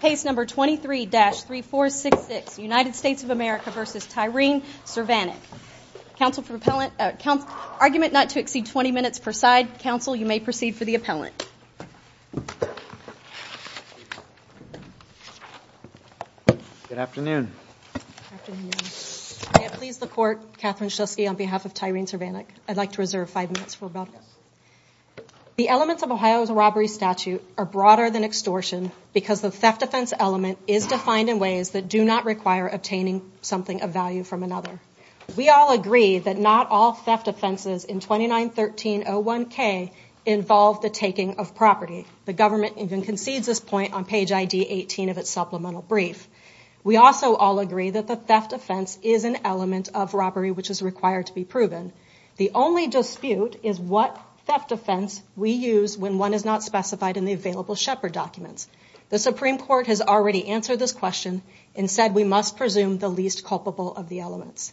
Case number 23-3466, United States of America v. Tyren Cervenak. Council for appellant, argument not to exceed 20 minutes per side. Council, you may proceed for the appellant. Good afternoon. May it please the court, Catherine Shusky on behalf of Tyren Cervenak. I'd like to reserve five minutes for about. The elements of Ohio's robbery statute are broader than extortion because the theft offense element is defined in ways that do not require obtaining something of value from another. We all agree that not all theft offenses in 29-1301K involve the taking of property. The government even concedes this point on page ID 18 of its supplemental brief. We also all agree that the theft offense is an element of robbery, which is required to be proven. The only dispute is what theft offense we use when one is not specified in the available shepherd documents. The Supreme court has already answered this question and said, we must presume the least culpable of the elements.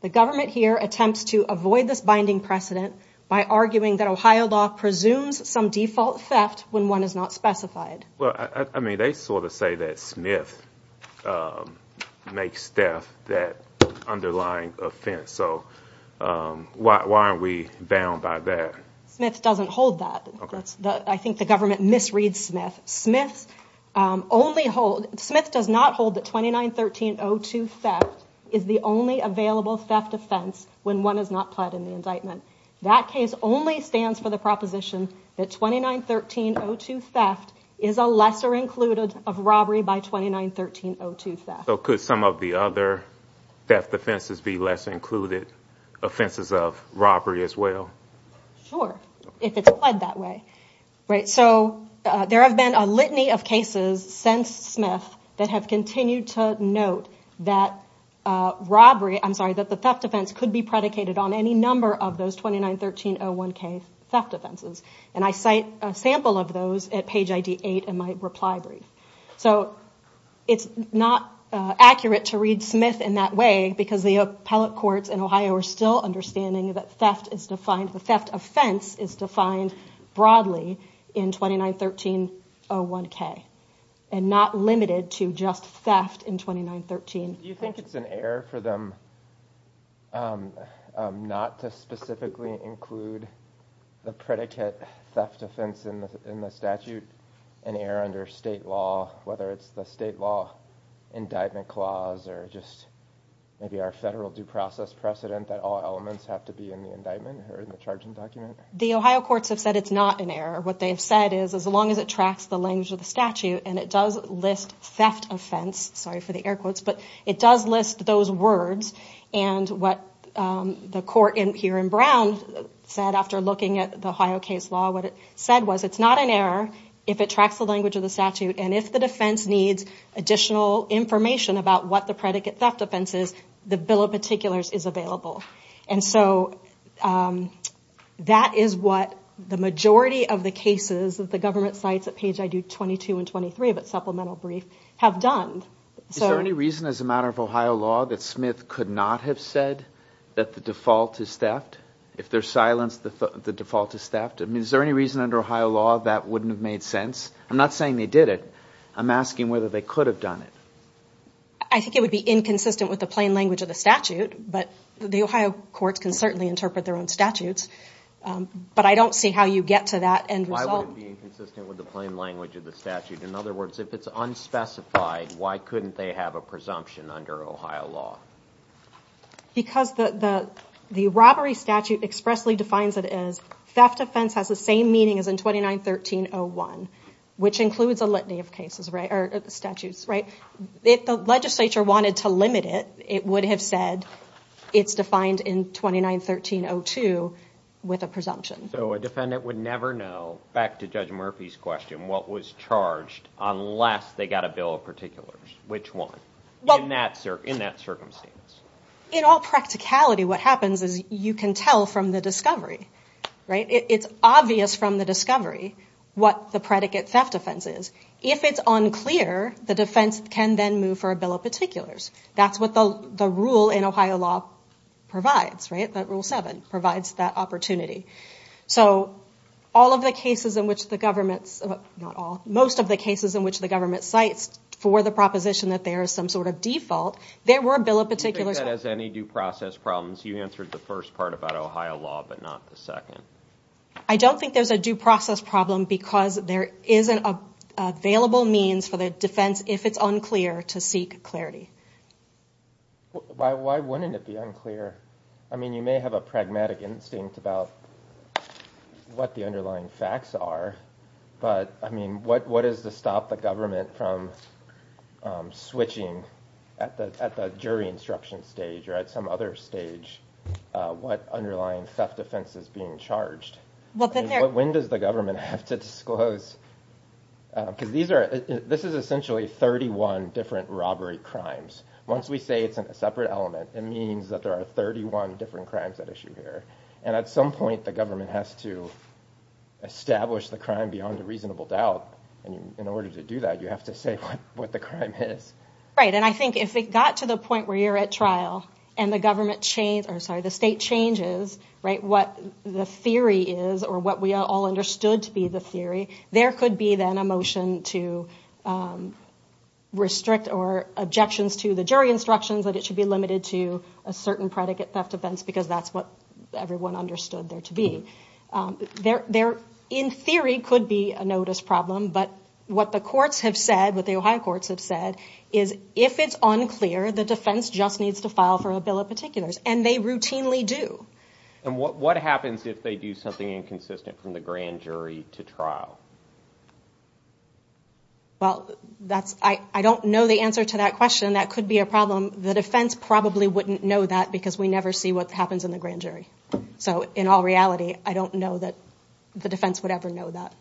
The government here attempts to avoid this binding precedent by arguing that Ohio law presumes some default theft when one is not specified. Well, I mean, they sort of say that Smith makes theft that underlying offense. So, um, why, why aren't we bound by that? Smith doesn't hold that. I think the government misread Smith. Smith's, um, only hold Smith does not hold that 29-1302 theft is the only available theft offense when one is not pled in the indictment, that case only stands for the proposition that 29-1302 theft is a lesser included of robbery by 29-1302 theft. So could some of the other theft offenses be less included offenses of robbery as well? Sure. If it's pled that way, right? So, uh, there have been a litany of cases since Smith that have continued to note that, uh, robbery, I'm sorry, that the theft offense could be predicated on any number of those 29-1301 theft offenses. And I cite a sample of those at page ID eight in my reply brief. So it's not accurate to read Smith in that way because the appellate courts in Ohio are still understanding that theft is defined, the theft offense is defined broadly in 29-1301 K and not limited to just theft in 29-13. Do you think it's an error for them? Um, um, not to specifically include the predicate theft offense in the, in the statute, an error under state law, whether it's the state law indictment clause, or just maybe our federal due process precedent that all elements have to be in the indictment or in the charging document. The Ohio courts have said it's not an error. What they've said is as long as it tracks the language of the statute and it does list theft offense, sorry for the air quotes, but it does list those words and what, um, the court in here in Brown said after looking at the Ohio case law, what it said was it's not an error if it tracks the language of the statute and if the defense needs additional information about what the predicate theft offense is, the bill of particulars is available. And so, um, that is what the majority of the cases that the government cites at page, I do 22 and 23, but supplemental brief have done. Is there any reason as a matter of Ohio law that Smith could not have said that the default is theft? If there's silence, the default is theft. I mean, is there any reason under Ohio law that wouldn't have made sense? I'm not saying they did it. I'm asking whether they could have done it. I think it would be inconsistent with the plain language of the statute, but the Ohio courts can certainly interpret their own statutes. Um, but I don't see how you get to that. And why would it be inconsistent with the plain language of the statute? In other words, if it's unspecified, why couldn't they have a presumption under Ohio law? Because the, the, the robbery statute expressly defines it as theft offense has the same meaning as in 29, 1301, which includes a litany of cases, right, or statutes, right? If the legislature wanted to limit it, it would have said it's defined in 29, 1302 with a presumption. So a defendant would never know back to judge Murphy's question, what was charged unless they got a bill of particulars, which one? Well, in that, in that circumstance. In all practicality, what happens is you can tell from the discovery, right? It's obvious from the discovery what the predicate theft offense is. If it's unclear, the defense can then move for a bill of particulars. That's what the, the rule in Ohio law provides, right? That rule seven provides that opportunity. So all of the cases in which the government's not all, most of the cases in which the government cites for the proposition that there is some sort of default, there were a bill of particulars as any due process problems. You answered the first part about Ohio law, but not the second. I don't think there's a due process problem because there isn't a, a available means for the defense. If it's unclear to seek clarity. Why, why wouldn't it be unclear? I mean, you may have a pragmatic instinct about what the underlying facts are, but I mean, what, what is the stop the government from switching at the, at the jury instruction stage or at some other stage what underlying theft offense is being charged? When does the government have to disclose, because these are, this is essentially 31 different robbery crimes. Once we say it's a separate element, it means that there are 31 different crimes at issue here. And at some point the government has to establish the crime beyond a reasonable doubt. And in order to do that, you have to say what the crime is. Right. And I think if it got to the point where you're at trial and the government change, or sorry, the state changes, right? What the theory is or what we all understood to be the theory, there could be then a motion to restrict or objections to the jury instructions, that it should be limited to a certain predicate theft offense, because that's what everyone understood there to be. There, there in theory could be a notice problem, but what the courts have said, what the Ohio courts have said is if it's unclear, the defense just needs to file for a bill of particulars and they routinely do. And what, what happens if they do something inconsistent from the grand jury to trial? Well, that's, I don't know the answer to that question. That could be a problem. The defense probably wouldn't know that because we never see what happens in the grand jury. So in all reality, I don't know that the defense would ever know that.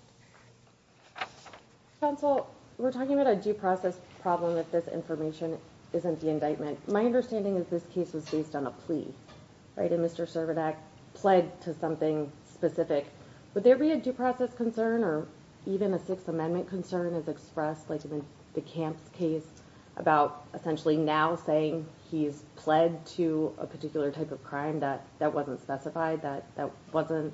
Counsel, we're talking about a due process problem if this information isn't the indictment. My understanding is this case was based on a plea, right? And Mr. Servodak pled to something specific. Would there be a due process concern or even a sixth amendment concern as expressed like in the Camps case about essentially now saying he's pled to a particular type of crime that, that wasn't specified, that, that wasn't,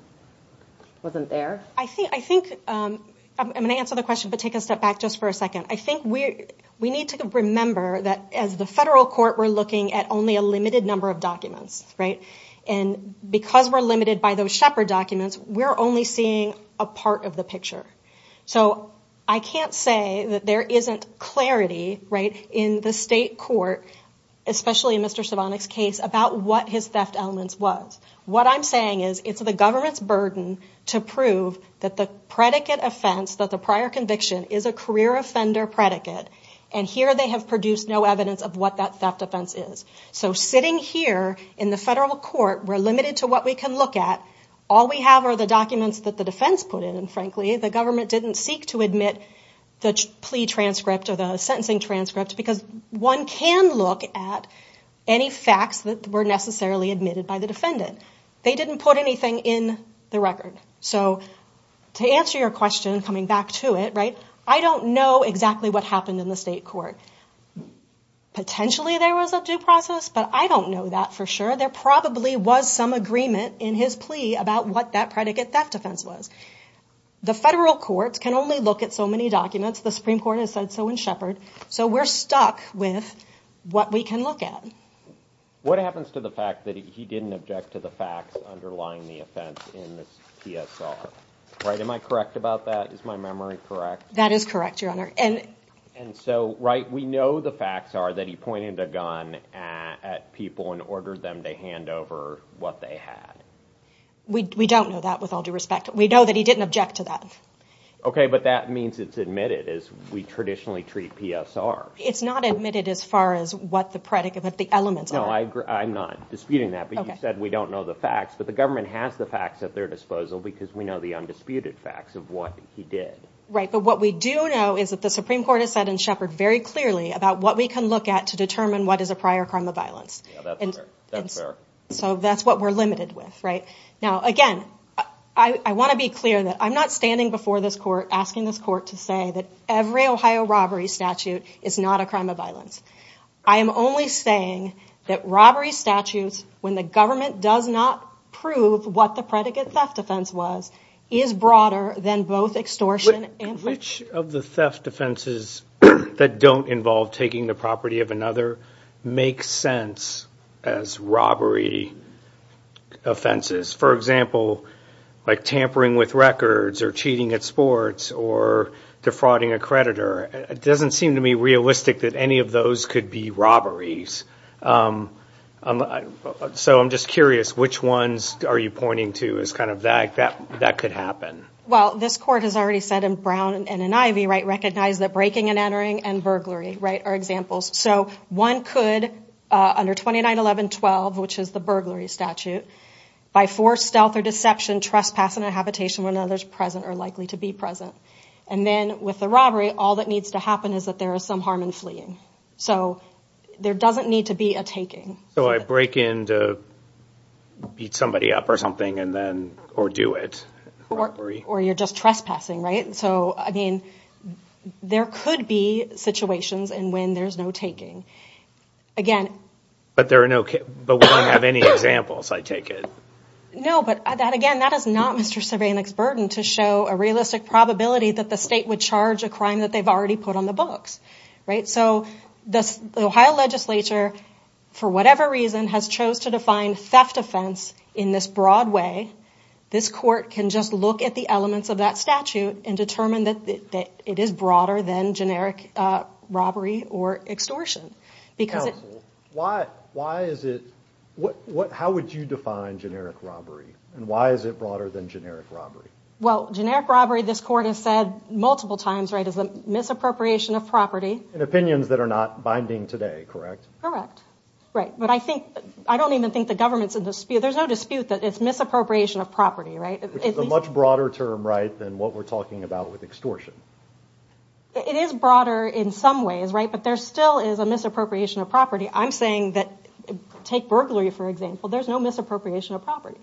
wasn't there? I think, I think I'm going to answer the question, but take a step back just for a second. I think we, we need to remember that as the federal court, we're looking at only a limited number of documents, right? And because we're limited by those shepherd documents, we're only seeing a part of the picture. So I can't say that there isn't clarity, right? In the state court, especially in Mr. Servodak's case about what his theft elements was. What I'm saying is it's the government's burden to prove that the predicate offense, that the prior conviction is a career offender predicate. And here they have produced no evidence of what that theft offense is. So sitting here in the federal court, we're limited to what we can look at. All we have are the documents that the defense put in. And frankly, the government didn't seek to admit the plea transcript or the sentencing transcript, because one can look at any facts that were necessarily admitted by the defendant. They didn't put anything in the record. So to answer your question, coming back to it, right, I don't know exactly what happened in the state court. Potentially there was a due process, but I don't know that for sure. There probably was some agreement in his plea about what that predicate theft offense was. The federal courts can only look at so many documents. The Supreme court has said so in Shepherd. So we're stuck with what we can look at. What happens to the fact that he didn't object to the facts underlying the offense in the PSR, right? Am I correct about that? Is my memory correct? That is correct, your honor. And so, right. We know the facts are that he pointed a gun at people and ordered them to hand over what they had. We don't know that with all due respect. We know that he didn't object to that. Okay. But that means it's admitted as we traditionally treat PSR. It's not admitted as far as what the predicate, but the elements. No, I agree. I'm not disputing that, but you said we don't know the facts, but the facts at their disposal, because we know the undisputed facts of what he did. But what we do know is that the Supreme court has said in Shepherd very clearly about what we can look at to determine what is a prior crime of violence. So that's what we're limited with right now. Again, I want to be clear that I'm not standing before this court, asking this court to say that every Ohio robbery statute is not a crime of violence. I am only saying that robbery statutes, when the government does not prove what the predicate theft defense was, is broader than both extortion and theft. Which of the theft defenses that don't involve taking the property of another makes sense as robbery offenses? For example, like tampering with records or cheating at sports or defrauding a creditor, it doesn't seem to me realistic that any of those could be robberies. So I'm just curious, which ones are you pointing to as kind of that could happen? Well, this court has already said in Brown and in Ivey, right, recognize that breaking and entering and burglary, right, are examples. So one could, under 2911.12, which is the burglary statute, by force, stealth, or deception, trespass in a habitation where another's present or likely to be present, and then with the robbery, all that needs to happen is that there is some harm in fleeing. So there doesn't need to be a taking. So I break in to beat somebody up or something and then, or do it. Or you're just trespassing, right? So, I mean, there could be situations in when there's no taking. But there are no, but we don't have any examples, I take it. No, but that, again, that is not Mr. Cervanek's burden to show a realistic probability that the state would charge a crime that they've already put on the books, right? So the Ohio legislature, for whatever reason, has chose to define theft offense in this broad way, this court can just look at the elements of that statute and determine that it is broader than generic robbery or extortion. Because it... Counsel, why is it, how would you define generic robbery? And why is it broader than generic robbery? Well, generic robbery, this court has said multiple times, right, is a misappropriation of property. In opinions that are not binding today, correct? Right. But I think, I don't even think the government's in dispute. There's no dispute that it's misappropriation of property, right? Which is a much broader term, right, than what we're talking about with extortion. It is broader in some ways, right? But there still is a misappropriation of property. I'm saying that, take burglary, for example, there's no misappropriation of property.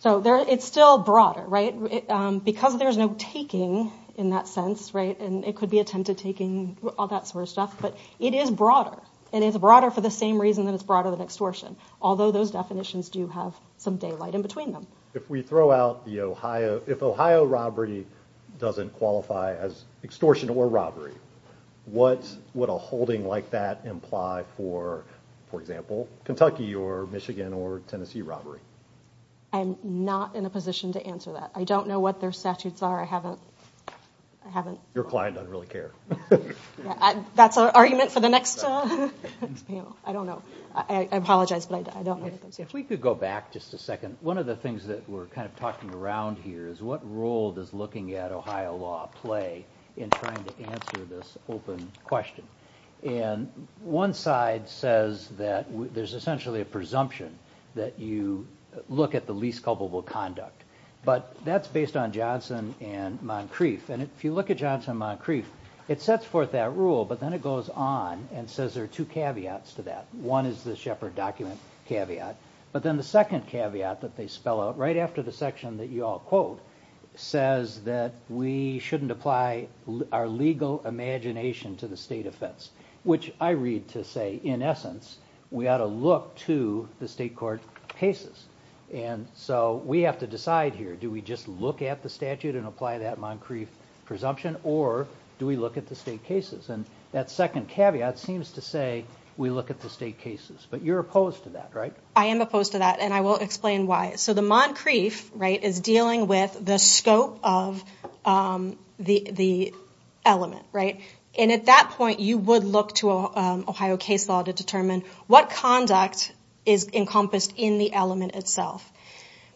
So there, it's still broader, right? Because there's no taking in that sense, right? And it could be attempted taking all that sort of stuff, but it is broader. And it's broader for the same reason that it's broader than extortion. Although those definitions do have some daylight in between them. If we throw out the Ohio, if Ohio robbery doesn't qualify as extortion or robbery, what would a holding like that imply for, for example, Kentucky or Michigan or Tennessee robbery? I'm not in a position to answer that. I don't know what their statutes are. I haven't, I haven't... Your client doesn't really care. That's an argument for the next panel. I don't know. I apologize, but I don't know. If we could go back just a second. One of the things that we're kind of talking around here is what role does looking at Ohio law play in trying to answer this open question? And one side says that there's essentially a presumption that you look at the least culpable conduct, but that's based on Johnson and Moncrief. And if you look at Johnson and Moncrief, it sets forth that rule, but then it goes on and says, there are two caveats to that one is the shepherd document caveat. But then the second caveat that they spell out right after the section that you all quote says that we shouldn't apply our legal imagination to the state offense, which I read to say, in essence, we ought to look to the state court cases. And so we have to decide here, do we just look at the statute and apply that Moncrief presumption, or do we look at the state cases? And that second caveat seems to say, we look at the state cases, but you're opposed to that, right? I am opposed to that. And I will explain why. So the Moncrief, right, is dealing with the scope of the element, right? And at that point, you would look to Ohio case law to determine what conduct is encompassed in the element itself.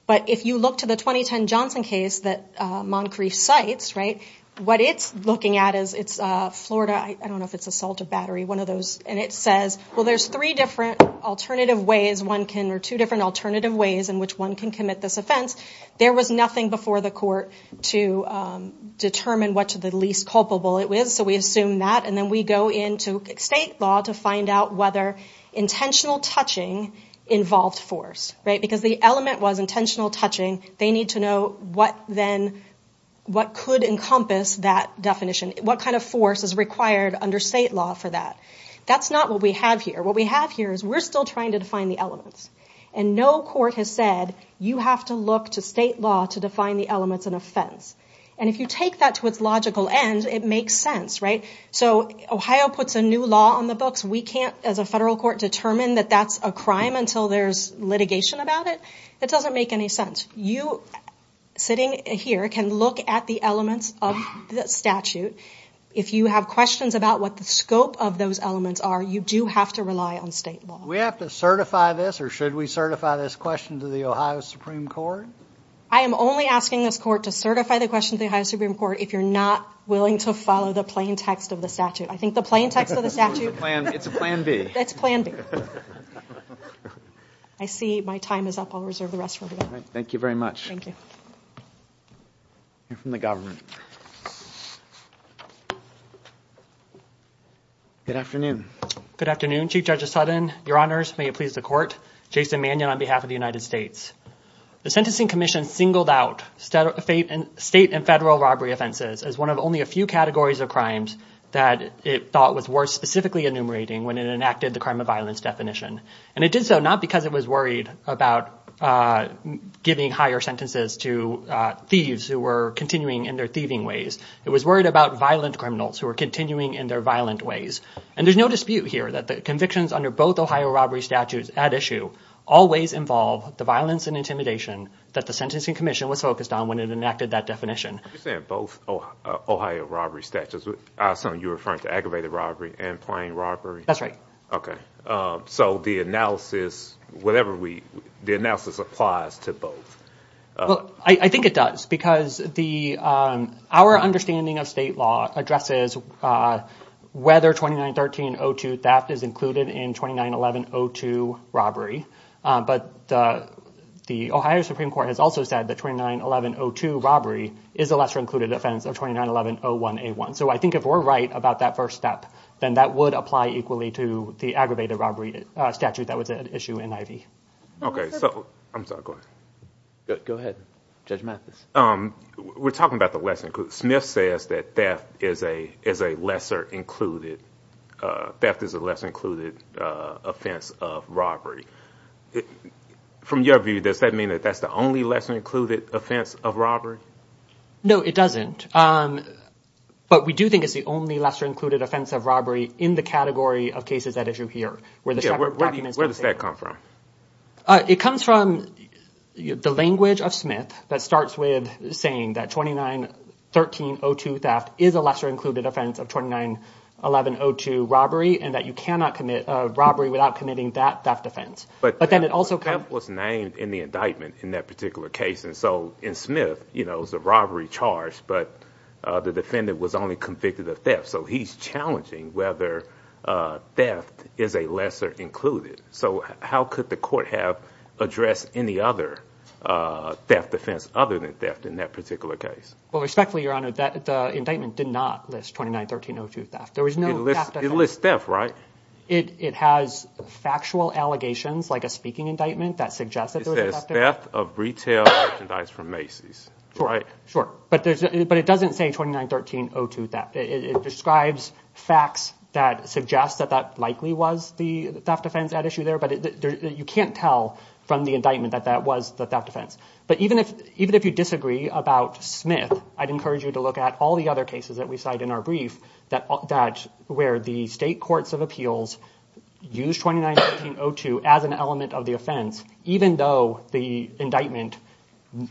But if you look to the 2010 Johnson case that Moncrief cites, right, what it's looking at is it's Florida, I don't know if it's Assault of Battery, one of those, and it says, well, there's three different alternative ways one can, or two different alternative ways in which one can commit this offense. There was nothing before the court to determine what to the least culpable it was. So we assume that, and then we go into state law to find out whether intentional touching involved force, right? Because the element was intentional touching. They need to know what then, what could encompass that definition. What kind of force is required under state law for that? That's not what we have here. What we have here is we're still trying to define the elements. And no court has said, you have to look to state law to define the elements in offense. And if you take that to its logical end, it makes sense, right? So Ohio puts a new law on the books. We can't, as a federal court, determine that that's a crime until there's litigation about it. That doesn't make any sense. You, sitting here, can look at the elements of the statute. If you have questions about what the scope of those elements are, you do have to rely on state law. We have to certify this, or should we certify this question to the Ohio Supreme Court? I am only asking this court to certify the question to the Ohio Supreme Court if you're not willing to follow the plain text of the statute. I think the plain text of the statute... It's a plan B. It's plan B. I see my time is up. I'll reserve the rest for today. Thank you very much. Thank you. Hear from the government. Good afternoon. Good afternoon, Chief Judge Sutton. Your Honors, may it please the court. Jason Mannion on behalf of the United States. The Sentencing Commission singled out state and federal robbery offenses as one of only a few categories of crimes that it thought was worth specifically enumerating when it enacted the crime of violence definition. And it did so not because it was worried about giving higher sentences to thieves who were continuing in their thieving ways. It was worried about violent criminals who were continuing in their violent ways. And there's no dispute here that the convictions under both Ohio robbery statutes at issue always involve the violence and intimidation that the Sentencing Commission was focused on when it enacted that definition. You're saying both Ohio robbery statutes. I assume you're referring to aggravated robbery and plain robbery. That's right. Okay. So the analysis, whatever we, the analysis applies to both. Well, I think it does because the, our understanding of state law addresses whether 2913-02 theft is included in 2911-02 robbery. But the Ohio Supreme Court has also said that 2911-02 robbery is a lesser included offense of 2911-01A1. So I think if we're right about that first step, then that would apply equally to the aggravated robbery statute that was at issue in Ivey. So I'm sorry, go ahead. Go ahead. Judge Mathis. We're talking about the lesser included. Smith says that theft is a lesser included, theft is a lesser included offense of robbery. From your view, does that mean that that's the only lesser included offense of robbery? No, it doesn't. But we do think it's the only lesser included offense of robbery in the category of cases at issue here, where the Shepard documents... Where does that come from? It comes from the language of Smith that starts with saying that 2913-02 theft is a lesser included offense of 2911-02 robbery, and that you cannot commit a robbery without committing that theft offense, but then it also... But theft was named in the indictment in that particular case. And so in Smith, you know, it was a robbery charge, but the defendant was only convicted of theft. So he's challenging whether theft is a lesser included. So how could the court have addressed any other theft offense other than theft in that particular case? Well, respectfully, Your Honor, the indictment did not list 2913-02 theft. There was no theft offense. It lists theft, right? It has factual allegations, like a speaking indictment that suggests that there was a theft. It says theft of retail merchandise from Macy's, right? Sure. But it doesn't say 2913-02 theft. It describes facts that suggest that that likely was the theft offense at issue there. But you can't tell from the indictment that that was the theft offense. But even if you disagree about Smith, I'd encourage you to look at all the other cases that we cite in our brief that where the state courts of appeals use 2913-02 as an element of the offense, even though the indictment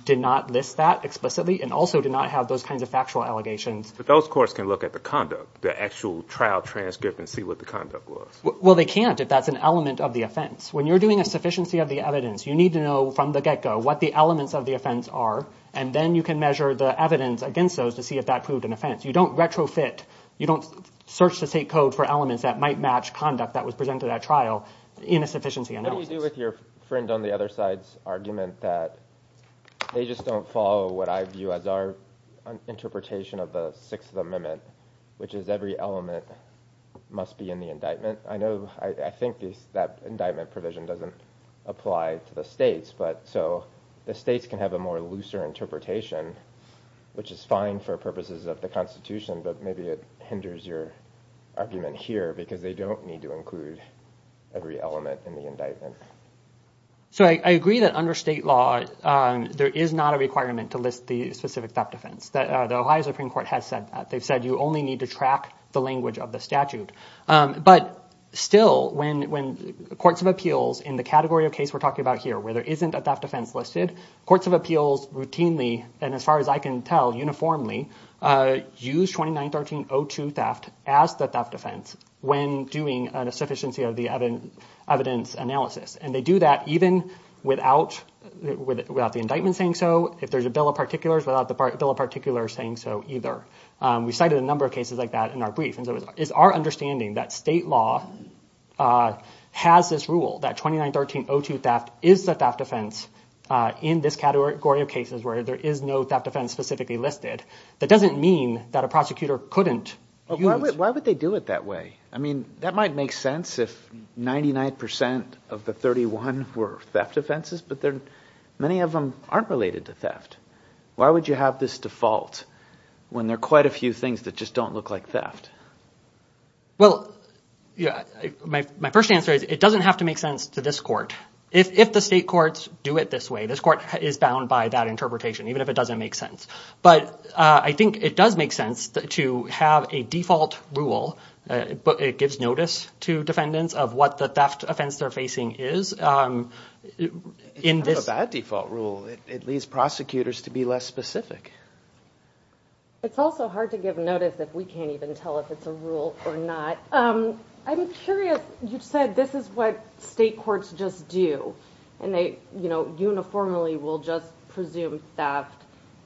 did not list that explicitly and also did not have those kinds of factual allegations. But those courts can look at the conduct, the actual trial transcript, and see what the conduct was. Well, they can't if that's an element of the offense. When you're doing a sufficiency of the evidence, you need to know from the get-go what the elements of the offense are, and then you can measure the evidence against those to see if that proved an offense. You don't retrofit, you don't search the state code for elements that might match conduct that was presented at trial in a sufficiency analysis. What do you do with your friend on the other side's argument that they just don't follow what I view as our interpretation of the Sixth Amendment, which is every element must be in the indictment? I know, I think that indictment provision doesn't apply to the states, but so the states can have a more looser interpretation, which is fine for purposes of the constitution, but maybe it hinders your argument here because they don't need to include every element in the indictment. I agree that under state law, there is not a requirement to list the specific theft offense, the Ohio Supreme Court has said that. They've said you only need to track the language of the statute, but still, when courts of appeals in the category of case we're talking about here, where there isn't a theft offense listed, courts of appeals routinely, and as far as I can tell, uniformly, use 29-13-02 theft as the theft offense when doing a proficiency of the evidence analysis, and they do that even without the indictment saying so, if there's a bill of particulars, without the bill of particulars saying so either. We cited a number of cases like that in our brief, and so it's our understanding that state law has this rule that 29-13-02 theft is the theft offense in this category of cases where there is no theft offense specifically listed. That doesn't mean that a prosecutor couldn't use- Why would they do it that way? I mean, that might make sense if 99% of the 31 were theft offenses, but many of them aren't related to theft. Why would you have this default when there are quite a few things that just don't look like theft? Well, my first answer is it doesn't have to make sense to this court. If the state courts do it this way, this court is bound by that interpretation, even if it doesn't make sense, but I think it does make sense to have a default rule, but it gives notice to defendants of what the theft offense they're facing is. It's not a bad default rule. It leads prosecutors to be less specific. It's also hard to give notice if we can't even tell if it's a rule or not. I'm curious, you said this is what state courts just do, and they uniformly will just presume theft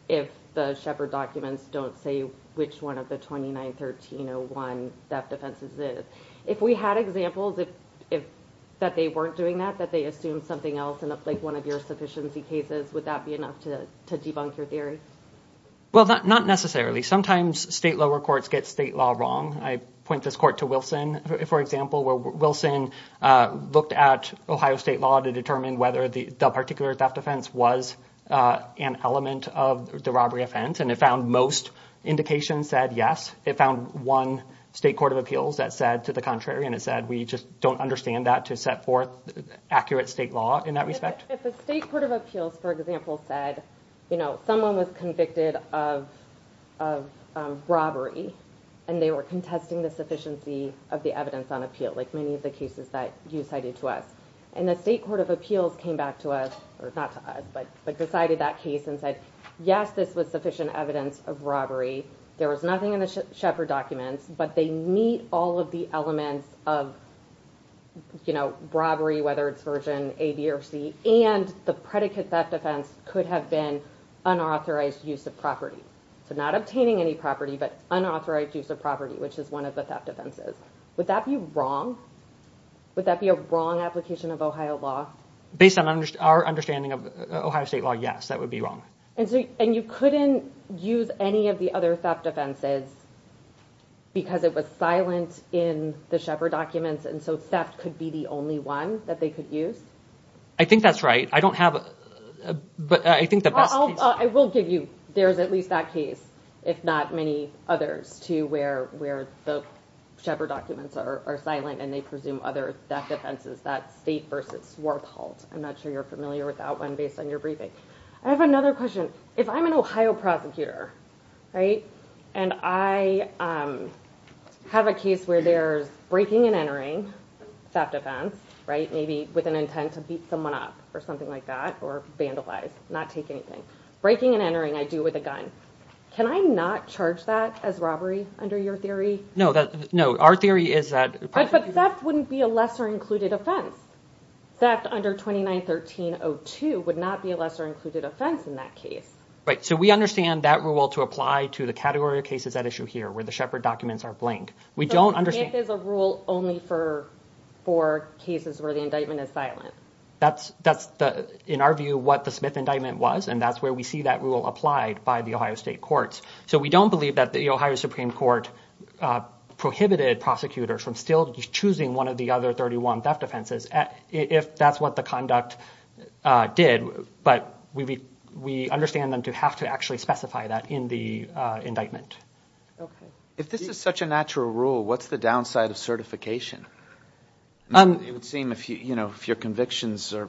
if the Shepard documents don't say which one of the 29-1301 theft offenses is. If we had examples that they weren't doing that, that they assumed something else, like one of your sufficiency cases, would that be enough to debunk your theory? Well, not necessarily. Sometimes state lower courts get state law wrong. I point this court to Wilson, for example, where Wilson looked at Ohio state law to determine whether the particular theft offense was an element of the robbery offense, and it found most indications said yes. It found one state court of appeals that said to the contrary, and it said, we just don't understand that to set forth accurate state law in that respect. If a state court of appeals, for example, said someone was convicted of robbery, and they were contesting the sufficiency of the evidence on appeal, like many of the cases that you cited to us, and the state court of appeals came back to us, or not to us, but decided that case and said, yes, this was sufficient evidence of robbery. There was nothing in the Shepard documents, but they meet all of the elements of robbery, whether it's version A, B, or C, and the predicate theft offense could have been unauthorized use of property, so not obtaining any property, but unauthorized use of property, which is one of the theft offenses. Would that be wrong? Would that be a wrong application of Ohio law? Based on our understanding of Ohio state law, yes, that would be wrong. And you couldn't use any of the other theft offenses because it was silent in the Shepard documents, and so theft could be the only one that they could use? I think that's right. I don't have, but I think the best case- I will give you, there's at least that case, if not many others, too, where the Shepard documents are silent, and they presume other theft offenses, that's state versus Swartholt. I'm not sure you're familiar with that one based on your briefing. I have another question. If I'm an Ohio prosecutor, right, and I have a case where there's breaking and entering theft offense, right, maybe with an intent to beat someone up or something like that, or vandalize, not take anything, breaking and entering, I do with a gun. Can I not charge that as robbery under your theory? No, our theory is that- But theft wouldn't be a lesser included offense. Theft under 29-1302 would not be a lesser included offense in that case. So we understand that rule to apply to the category of cases at issue here, where the Shepard documents are blank. We don't understand- So the Smith is a rule only for cases where the indictment is silent. That's, in our view, what the Smith indictment was. And that's where we see that rule applied by the Ohio state courts. So we don't believe that the Ohio Supreme Court prohibited prosecutors from still choosing one of the other 31 theft offenses, if that's what the conduct did. But we understand them to have to actually specify that in the indictment. If this is such a natural rule, what's the downside of certification? It would seem, if your convictions are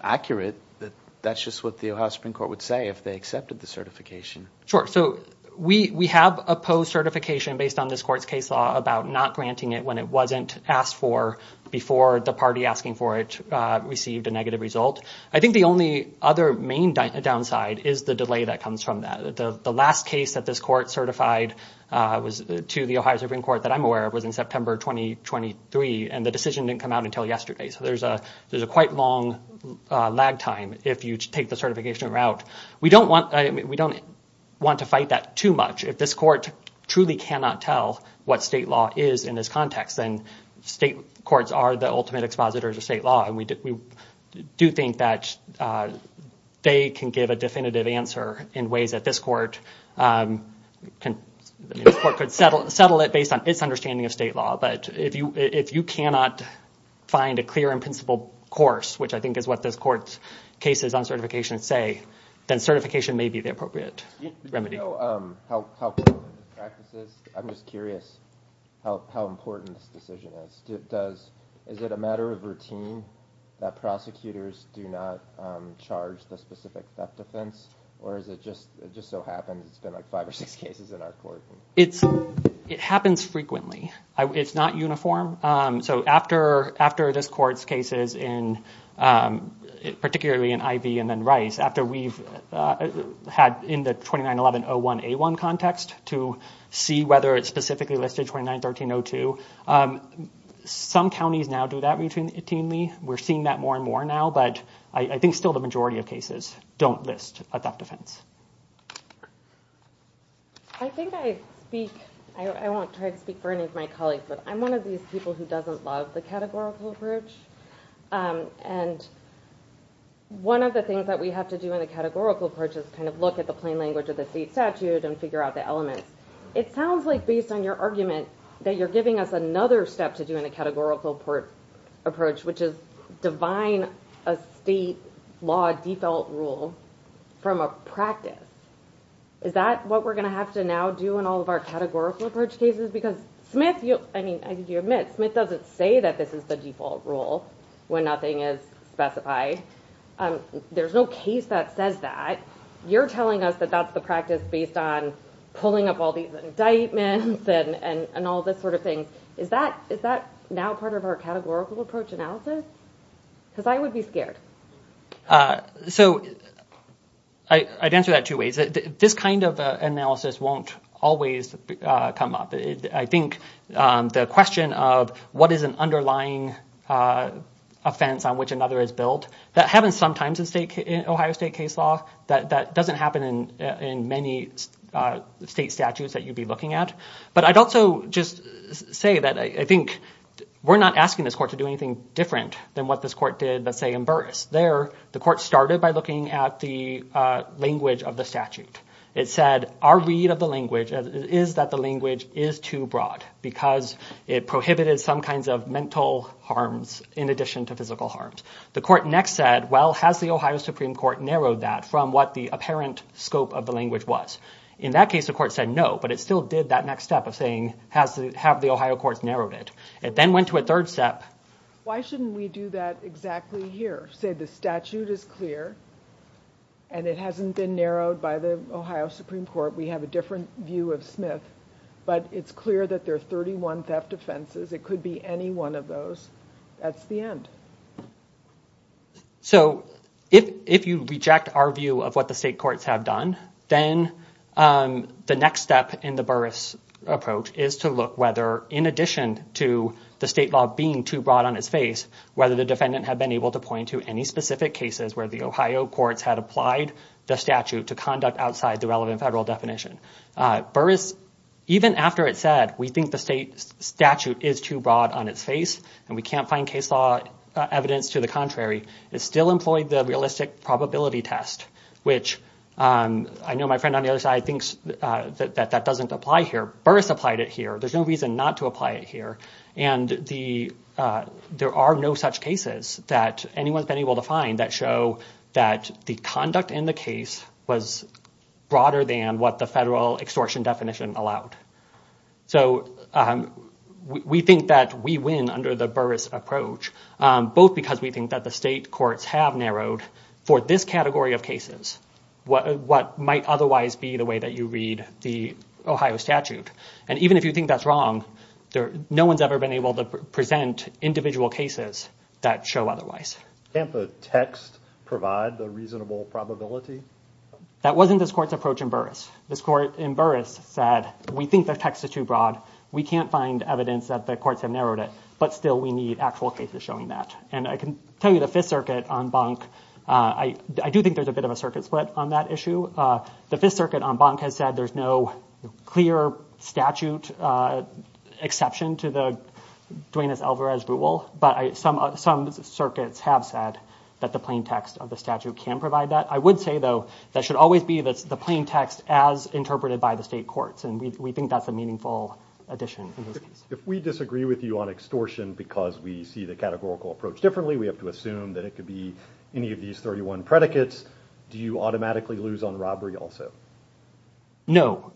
accurate, that that's just what the Ohio Supreme Court would say if they accepted the certification. Sure. So we have opposed certification based on this court's case law about not granting it when it wasn't asked for before the party asking for it received a negative result. I think the only other main downside is the delay that comes from that. The last case that this court certified was to the Ohio Supreme Court that I'm aware of was in September 2023. And the decision didn't come out until yesterday. So there's a there's a quite long lag time if you take the certification route. We don't want we don't want to fight that too much. If this court truly cannot tell what state law is in this context, then state courts are the ultimate expositors of state law. And we do think that they can give a definitive answer in ways that this court can or could settle it based on its understanding of state law. But if you if you cannot find a clear and principled course, which I think is what this court's cases on certification say, then certification may be the appropriate remedy. Help help practices. I'm just curious how how important this decision is. Does is it a matter of routine that prosecutors do not charge the specific theft offense? Or is it just it just so happens it's been like five or six cases in our court? It's it happens frequently. It's not uniform. So after after this court's cases in particularly in Ivey and then Rice, after we've had in the twenty nine eleven oh one a one context to see whether it's specifically listed twenty nine thirteen oh two. Some counties now do that routinely. We're seeing that more and more now. But I think still the majority of cases don't list a theft offense. I think I speak I won't try to speak for any of my colleagues, but I'm one of these people who doesn't love the categorical approach. And one of the things that we have to do in the categorical approach is kind of look at the plain language of the state statute and figure out the elements. It sounds like based on your argument that you're giving us another step to do in a categorical port approach, which is divine a state law default rule from a practice. Is that what we're going to have to now do in all of our categorical approach cases? Because Smith, I mean, I think you admit Smith doesn't say that this is the default rule when nothing is specified. There's no case that says that you're telling us that that's the practice based on pulling up all these indictments and all this sort of thing. Is that is that now part of our categorical approach analysis? Because I would be scared. So I'd answer that two ways. This kind of analysis won't always come up. I think the question of what is an underlying offense on which another is built, that happens sometimes in Ohio state case law, that doesn't happen in many state statutes that you'd be looking at. But I'd also just say that I think we're not asking this court to do anything different than what this court did, let's say, in Burris. There, the court started by looking at the language of the statute. It said our read of the language is that the language is too broad because it prohibited some kinds of mental harms in addition to physical harms. The court next said, well, has the Ohio Supreme Court narrowed that from what the apparent scope of the language was? In that case, the court said no, but it still did that next step of saying has to have the Ohio courts narrowed it. It then went to a third step. Why shouldn't we do that exactly here? Say the statute is clear. And it hasn't been narrowed by the Ohio Supreme Court. We have a different view of Smith, but it's clear that there are 31 theft offenses. It could be any one of those. That's the end. So if if you reject our view of what the state courts have done, then the next step in the Burris approach is to look whether, in addition to the state law being too broad on its face, whether the defendant had been able to point to any specific cases where the Ohio courts had applied the statute to conduct outside the relevant federal definition. Burris, even after it said we think the state statute is too broad on its face and we can't find case law evidence to the contrary, it still employed the realistic probability test, which I know my friend on the other side thinks that that doesn't apply here. Burris applied it here. There's no reason not to apply it here. And the there are no such cases that anyone's been able to find that show that the conduct in the case was broader than what the federal extortion definition allowed. So we think that we win under the Burris approach, both because we think that the state courts have narrowed for this category of cases what might otherwise be the way that you read the Ohio statute. And even if you think that's wrong, no one's ever been able to present individual cases that show otherwise. Can't the text provide the reasonable probability? That wasn't this court's approach in Burris. This court in Burris said, we think the text is too broad. We can't find evidence that the courts have narrowed it. But still, we need actual cases showing that. And I can tell you the Fifth Circuit on Bank. I do think there's a bit of a circuit split on that issue. The Fifth Circuit on Bank has said there's no clear statute exception to the Duenas-Alvarez rule. But some circuits have said that the plain text of the statute can provide that. I would say, though, that should always be the plain text as interpreted by the state courts. And we think that's a meaningful addition. If we disagree with you on extortion because we see the categorical approach differently, we have to assume that it could be any of these 31 predicates. Do you automatically lose on robbery also? No.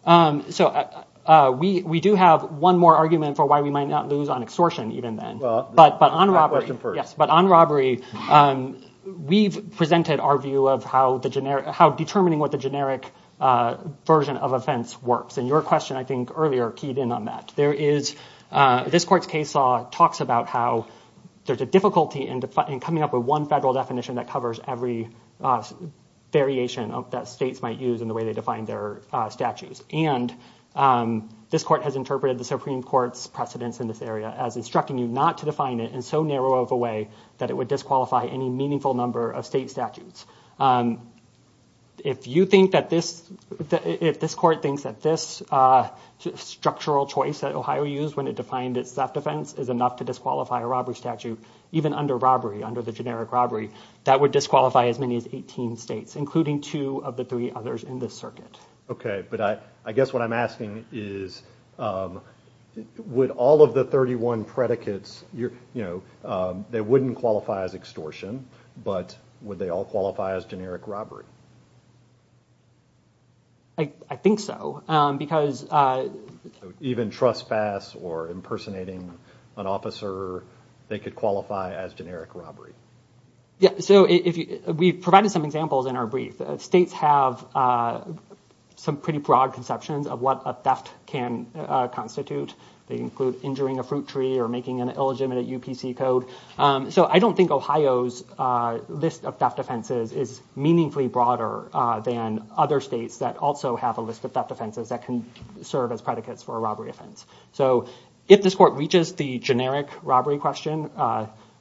So we do have one more argument for why we might not lose on extortion even then. But on robbery, we've presented our view of how determining what the generic version of offense works. And your question, I think, earlier keyed in on that. This court's case law talks about how there's a difficulty in coming up with one federal definition that covers every variation that states might use in the way they define their statutes. And this court has interpreted the Supreme Court's precedence in this area as instructing you not to define it in so narrow of a way that it would disqualify any meaningful number of state statutes. If you think that this, if this court thinks that this structural choice that Ohio used when it defined its theft defense is enough to disqualify a robbery statute, even under robbery, under the generic robbery, that would disqualify as many as 18 states, including two of the three others in this circuit. OK, but I guess what I'm asking is, would all of the 31 predicates, you know, they wouldn't qualify as extortion, but would they all qualify as generic robbery? I think so, because even trespass or impersonating an officer, they could qualify as generic robbery. Yeah, so if we provided some examples in our brief, states have some pretty broad conceptions of what a theft can constitute. They include injuring a fruit tree or making an illegitimate UPC code. So I don't think Ohio's list of theft offenses is meaningfully broader than other states that also have a list of theft offenses that can serve as predicates for a robbery offense. So if this court reaches the generic robbery question,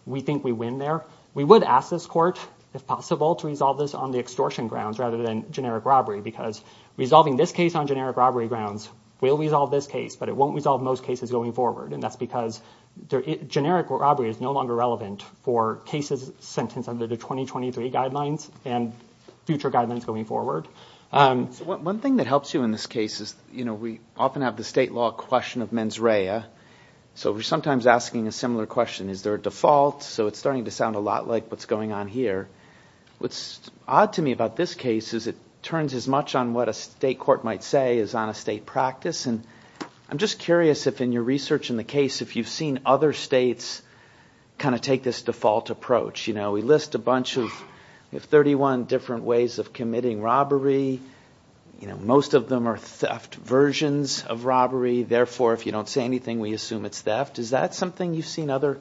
we think we win there. We would ask this court, if possible, to resolve this on the extortion grounds rather than generic robbery, because resolving this case on generic robbery grounds will resolve this case, but it won't resolve most cases going forward. And that's because generic robbery is no longer relevant for cases sentenced under the 2023 guidelines and future guidelines going forward. So one thing that helps you in this case is, you know, we often have the state law question of mens rea. So we're sometimes asking a similar question. Is there a default? So it's starting to sound a lot like what's going on here. What's odd to me about this case is it turns as much on what a state court might say is on a state practice. And I'm just curious if in your research in the case, if you've seen other states kind of take this default approach. You know, we list a bunch of 31 different ways of committing robbery. You know, most of them are theft versions of robbery. Therefore, if you don't say anything, we assume it's theft. Is that something you've seen other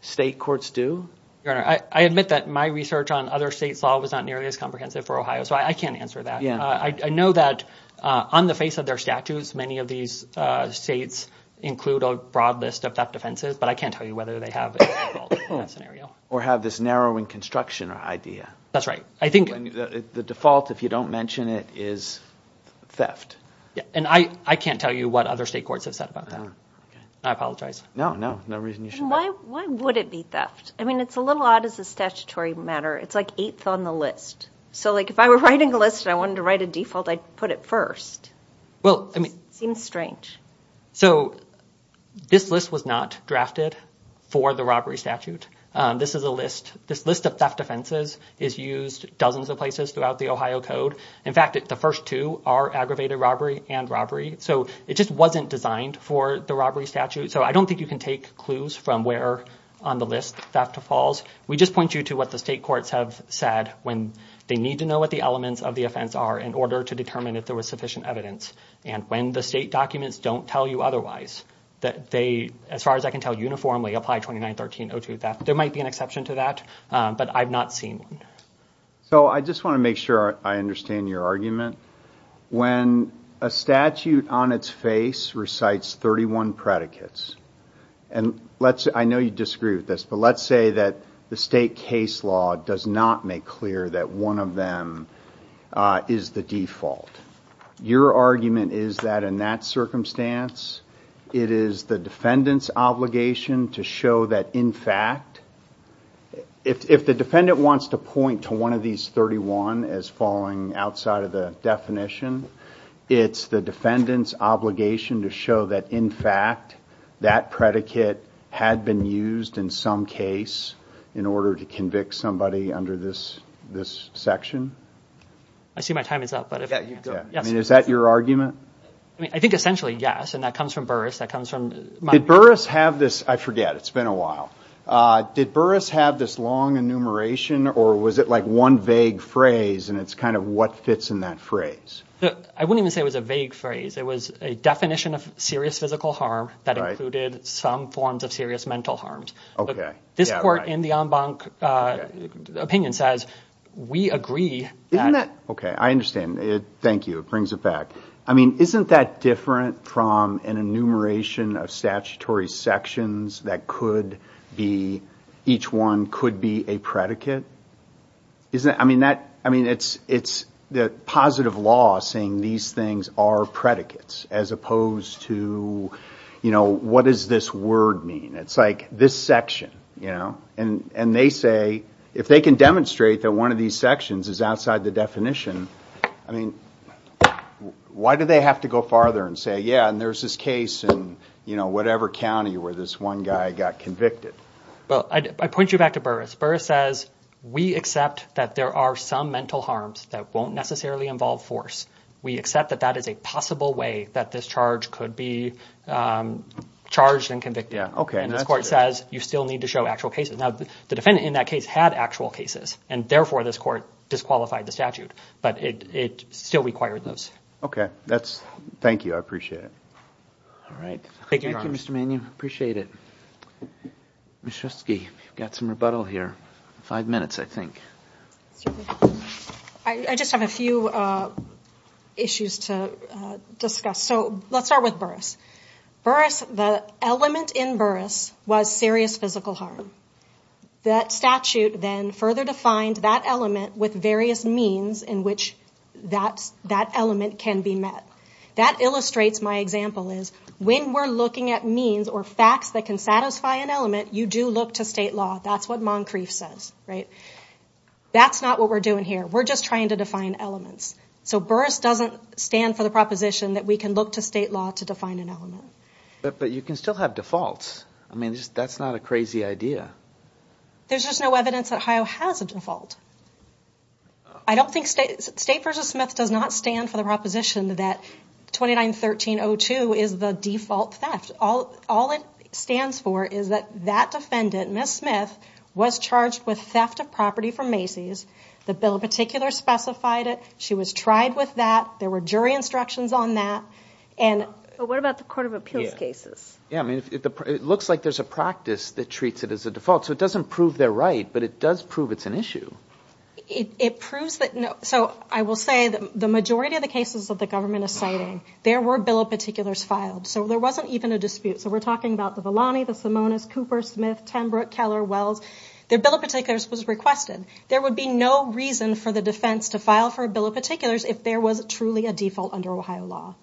state courts do? Your Honor, I admit that my research on other states law was not nearly as comprehensive for Ohio, so I can't answer that. Yeah, I know that on the face of their statutes, many of these states include a broad list of theft offenses, but I can't tell you whether they have a default in that scenario. Or have this narrowing construction idea. That's right. I think the default, if you don't mention it, is theft. And I can't tell you what other state courts have said about that. I apologize. No, no, no reason you shouldn't. Why would it be theft? I mean, it's a little odd as a statutory matter. It's like eighth on the list. So like if I were writing a list and I wanted to write a default, I'd put it first. Well, I mean, seems strange. So this list was not drafted for the robbery statute. This is a list. This list of theft offenses is used dozens of places throughout the Ohio Code. In fact, the first two are aggravated robbery and robbery. So it just wasn't designed for the robbery statute. So I don't think you can take clues from where on the list theft falls. We just point you to what the state courts have said when they need to know what the elements of the offense are in order to determine if there was sufficient evidence. And when the state documents don't tell you otherwise, that they, as far as I can tell, uniformly apply 29-13-02 theft. There might be an exception to that, but I've not seen one. So I just want to make sure I understand your argument. When a statute on its face recites 31 predicates and let's I know you disagree with this, but let's say that the state case law does not make clear that one of them is the default. Your argument is that in that circumstance, it is the defendant's obligation to show that, in fact, if the defendant wants to point to one of these 31 as falling outside of the definition, it's the defendant's obligation to show that, in fact, that predicate had been used in some case in order to convict somebody under this this section. I see my time is up, but is that your argument? I mean, I think essentially, yes. And that comes from Burris. That comes from my Burris have this. I forget. It's been a while. Did Burris have this long enumeration or was it like one vague phrase? And it's kind of what fits in that phrase. I wouldn't even say it was a vague phrase. It was a definition of serious physical harm that included some forms of serious mental harms. OK, this court in the opinion says we agree that. OK, I understand it. Thank you. It brings it back. I mean, isn't that different from an enumeration of statutory sections that could be each one could be a predicate? Isn't I mean that I mean, it's it's the positive law saying these things are predicates as opposed to, you know, what does this word mean? It's like this section, you know, and and they say if they can demonstrate that one of these sections is outside the definition. I mean, why do they have to go farther and say, yeah, and there's this case in, you know, whatever county where this one guy got convicted? But I point you back to Burris Burris says we accept that there are some mental harms that won't necessarily involve force. We accept that that is a possible way that this charge could be charged and convicted. OK, and this court says you still need to show actual cases. Now, the defendant in that case had actual cases, and therefore this court disqualified the statute, but it still required those. OK, that's thank you. I appreciate it. All right. Thank you, Mr. Mann. You appreciate it. Mr. Ski got some rebuttal here. Five minutes, I think I just have a few issues to discuss. So let's start with Burris Burris. The element in Burris was serious physical harm. That statute then further defined that element with various means in which that that element can be met. That illustrates my example is when we're looking at means or facts that can satisfy an element, you do look to state law. That's what Moncrief says, right? That's not what we're doing here. We're just trying to define elements. So Burris doesn't stand for the proposition that we can look to state law to define an element. But you can still have defaults. I mean, that's not a crazy idea. There's just no evidence that Ohio has a default. I don't think state versus Smith does not stand for the proposition that twenty nine thirteen oh two is the default theft. All it stands for is that that defendant, Miss Smith, was charged with theft of property from Macy's. The bill in particular specified it. She was tried with that. There were jury instructions on that. And what about the court of appeals cases? Yeah, I mean, it looks like there's a practice that treats it as a default. So it doesn't prove they're right, but it does prove it's an issue. It proves that. So I will say that the majority of the cases that the government is citing, there were bill of particulars filed. So there wasn't even a dispute. So we're talking about the Valani, the Simonis, Cooper, Smith, Tenbrook, Keller, Wells, their bill of particulars was requested. There would be no reason for the defense to file for a bill of particulars if there was truly a default under Ohio law.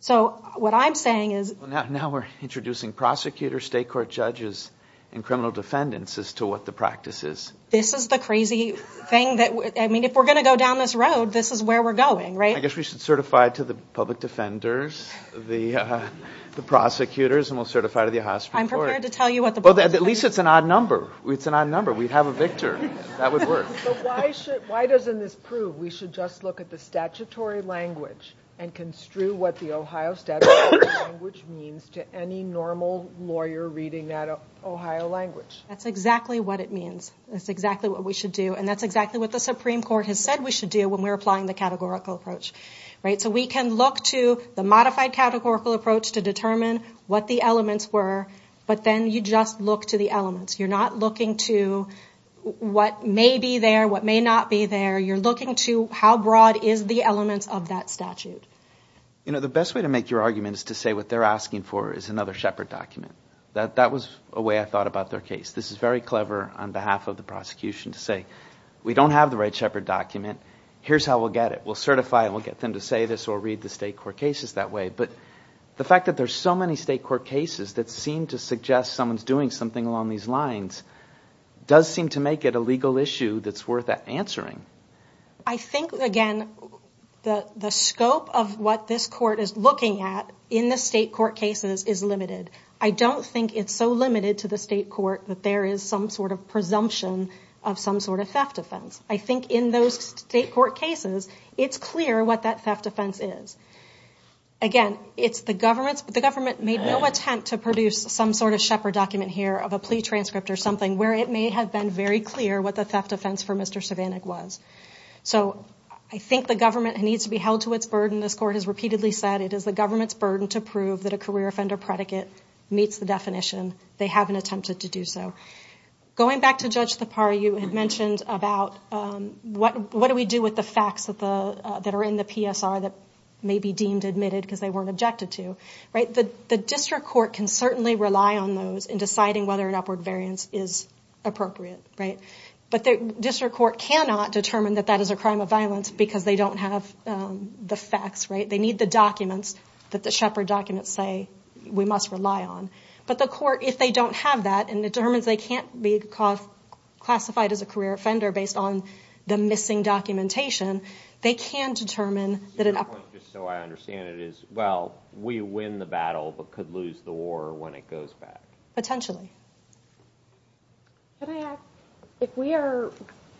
So what I'm saying is now we're introducing prosecutors, state court judges and criminal defendants as to what the practice is. This is the crazy thing that I mean, if we're going to go down this road, this is where we're going, right? I guess we should certify to the public defenders, the the prosecutors, and we'll certify to the hospital. I'm prepared to tell you what the. But at least it's an odd number. It's an odd number. We'd have a victor. That would work. But why should why doesn't this prove we should just look at the statutory language and construe what the Ohio statute, which means to any normal lawyer reading that Ohio language? That's exactly what it means. That's exactly what we should do. And that's exactly what the Supreme Court has said we should do when we're applying the categorical approach. Right. So we can look to the modified categorical approach to determine what the elements were. But then you just look to the elements. You're not looking to what may be there, what may not be there. You're looking to how broad is the elements of that statute? You know, the best way to make your argument is to say what they're asking for is another Shepard document. That that was a way I thought about their case. This is very clever on behalf of the prosecution to say we don't have the right Shepard document. Here's how we'll get it. We'll certify it. We'll get them to say this or read the state court cases that way. But the fact that there's so many state court cases that seem to suggest someone's doing something along these lines does seem to make it a legal issue that's worth answering. I think, again, the the scope of what this court is looking at in the state court cases is limited. I don't think it's so limited to the state court that there is some sort of presumption of some sort of theft offense. I think in those state court cases, it's clear what that theft offense is. Again, it's the government's, but the government made no attempt to produce some sort of Shepard document here of a plea transcript or something where it may have been very clear what the theft offense for Mr. Cervanek was. So I think the government needs to be held to its burden. This court has repeatedly said it is the government's burden to prove that a career offender predicate meets the definition. They haven't attempted to do so. Going back to Judge Thapar, you had mentioned about what what do we do with the facts that the that are in the PSR that may be deemed admitted because they weren't objected to. Right. The district court can certainly rely on those in deciding whether an upward variance is appropriate. Right. But the district court cannot determine that that is a crime of violence because they don't have the facts. Right. They need the documents that the Shepard documents say we must rely on. But the court, if they don't have that and it determines they can't be classified as a career offender based on the missing documentation, they can determine that. Just so I understand it is, well, we win the battle, but could lose the war when it goes back. Potentially. Can I ask if we are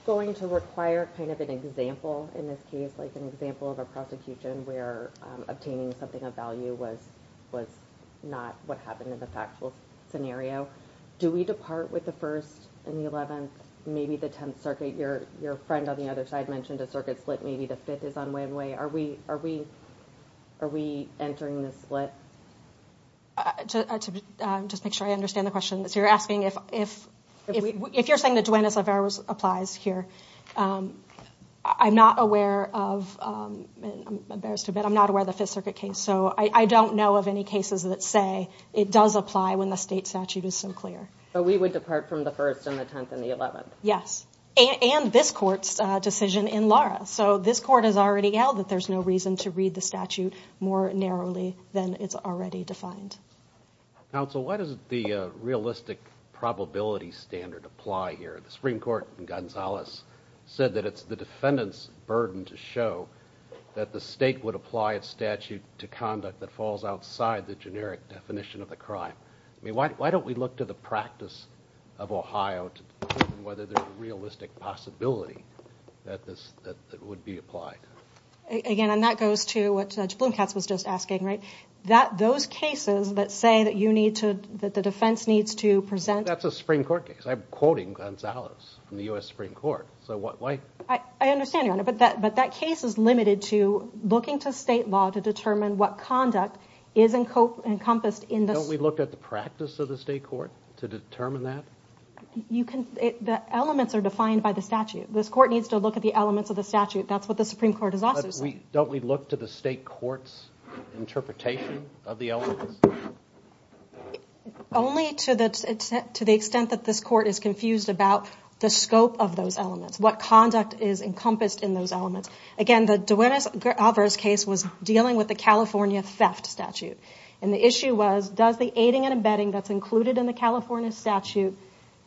going to require kind of an example in this case, like an example of a prosecution where obtaining something of value was was not what happened in the factual scenario. Do we depart with the first and the 11th, maybe the 10th circuit? Your your friend on the other side mentioned a circuit split. Maybe the fifth is on win way. Are we are we are we entering the split? To just make sure I understand the question. So you're asking if if if you're saying that Dwayne is a virus applies here. I'm not aware of. I'm embarrassed to admit I'm not aware of the Fifth Circuit case. So I don't know of any cases that say it does apply when the state statute is so clear. But we would depart from the first and the 10th and the 11th. Yes. And this court's decision in Laura. So this court has already held that there's no reason to read the statute more narrowly than it's already defined. Now, so what is the realistic probability standard apply here? The Supreme Court in Gonzalez said that it's the defendant's burden to show that the state would apply its statute to conduct that falls outside the generic definition of the crime. I mean, why don't we look to the practice of Ohio to determine whether there's a realistic possibility that this that would be applied again? And that goes to what Judge Blomkatz was just asking, right? That those cases that say that you need to that the defense needs to present. That's a Supreme Court case. I'm quoting Gonzalez from the U.S. Supreme Court. So why? I understand, Your Honor. But that but that case is limited to looking to state law to determine what conduct is encompassed in this. Don't we look at the practice of the state court to determine that? You can. The elements are defined by the statute. This court needs to look at the elements of the statute. That's what the Supreme Court has also said. Don't we look to the state court's interpretation of the elements? Only to the extent that this court is confused about the scope of those elements, what conduct is encompassed in those elements. Again, the Duenas-Alvarez case was dealing with the California theft statute. And the issue was, does the aiding and abetting that's included in the California statute,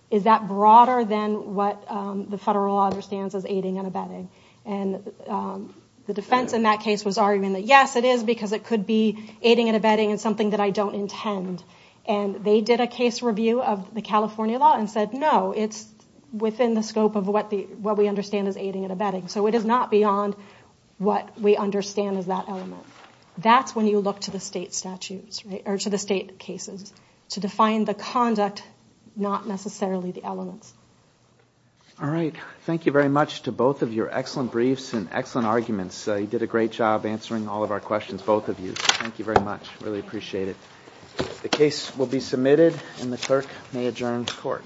is that broader than what the federal law understands as aiding and abetting? And the defense in that case was arguing that, yes, it is, because it could be aiding and abetting and something that I don't intend. And they did a case review of the California law and said, no, it's within the scope of what we understand as aiding and abetting. So it is not beyond what we understand as that element. That's when you look to the state statutes or to the state cases to define the conduct, not necessarily the elements. All right. Thank you very much to both of your excellent briefs and excellent arguments. You did a great job answering all of our questions, both of you. Thank you very much. Really appreciate it. The case will be submitted and the clerk may adjourn court.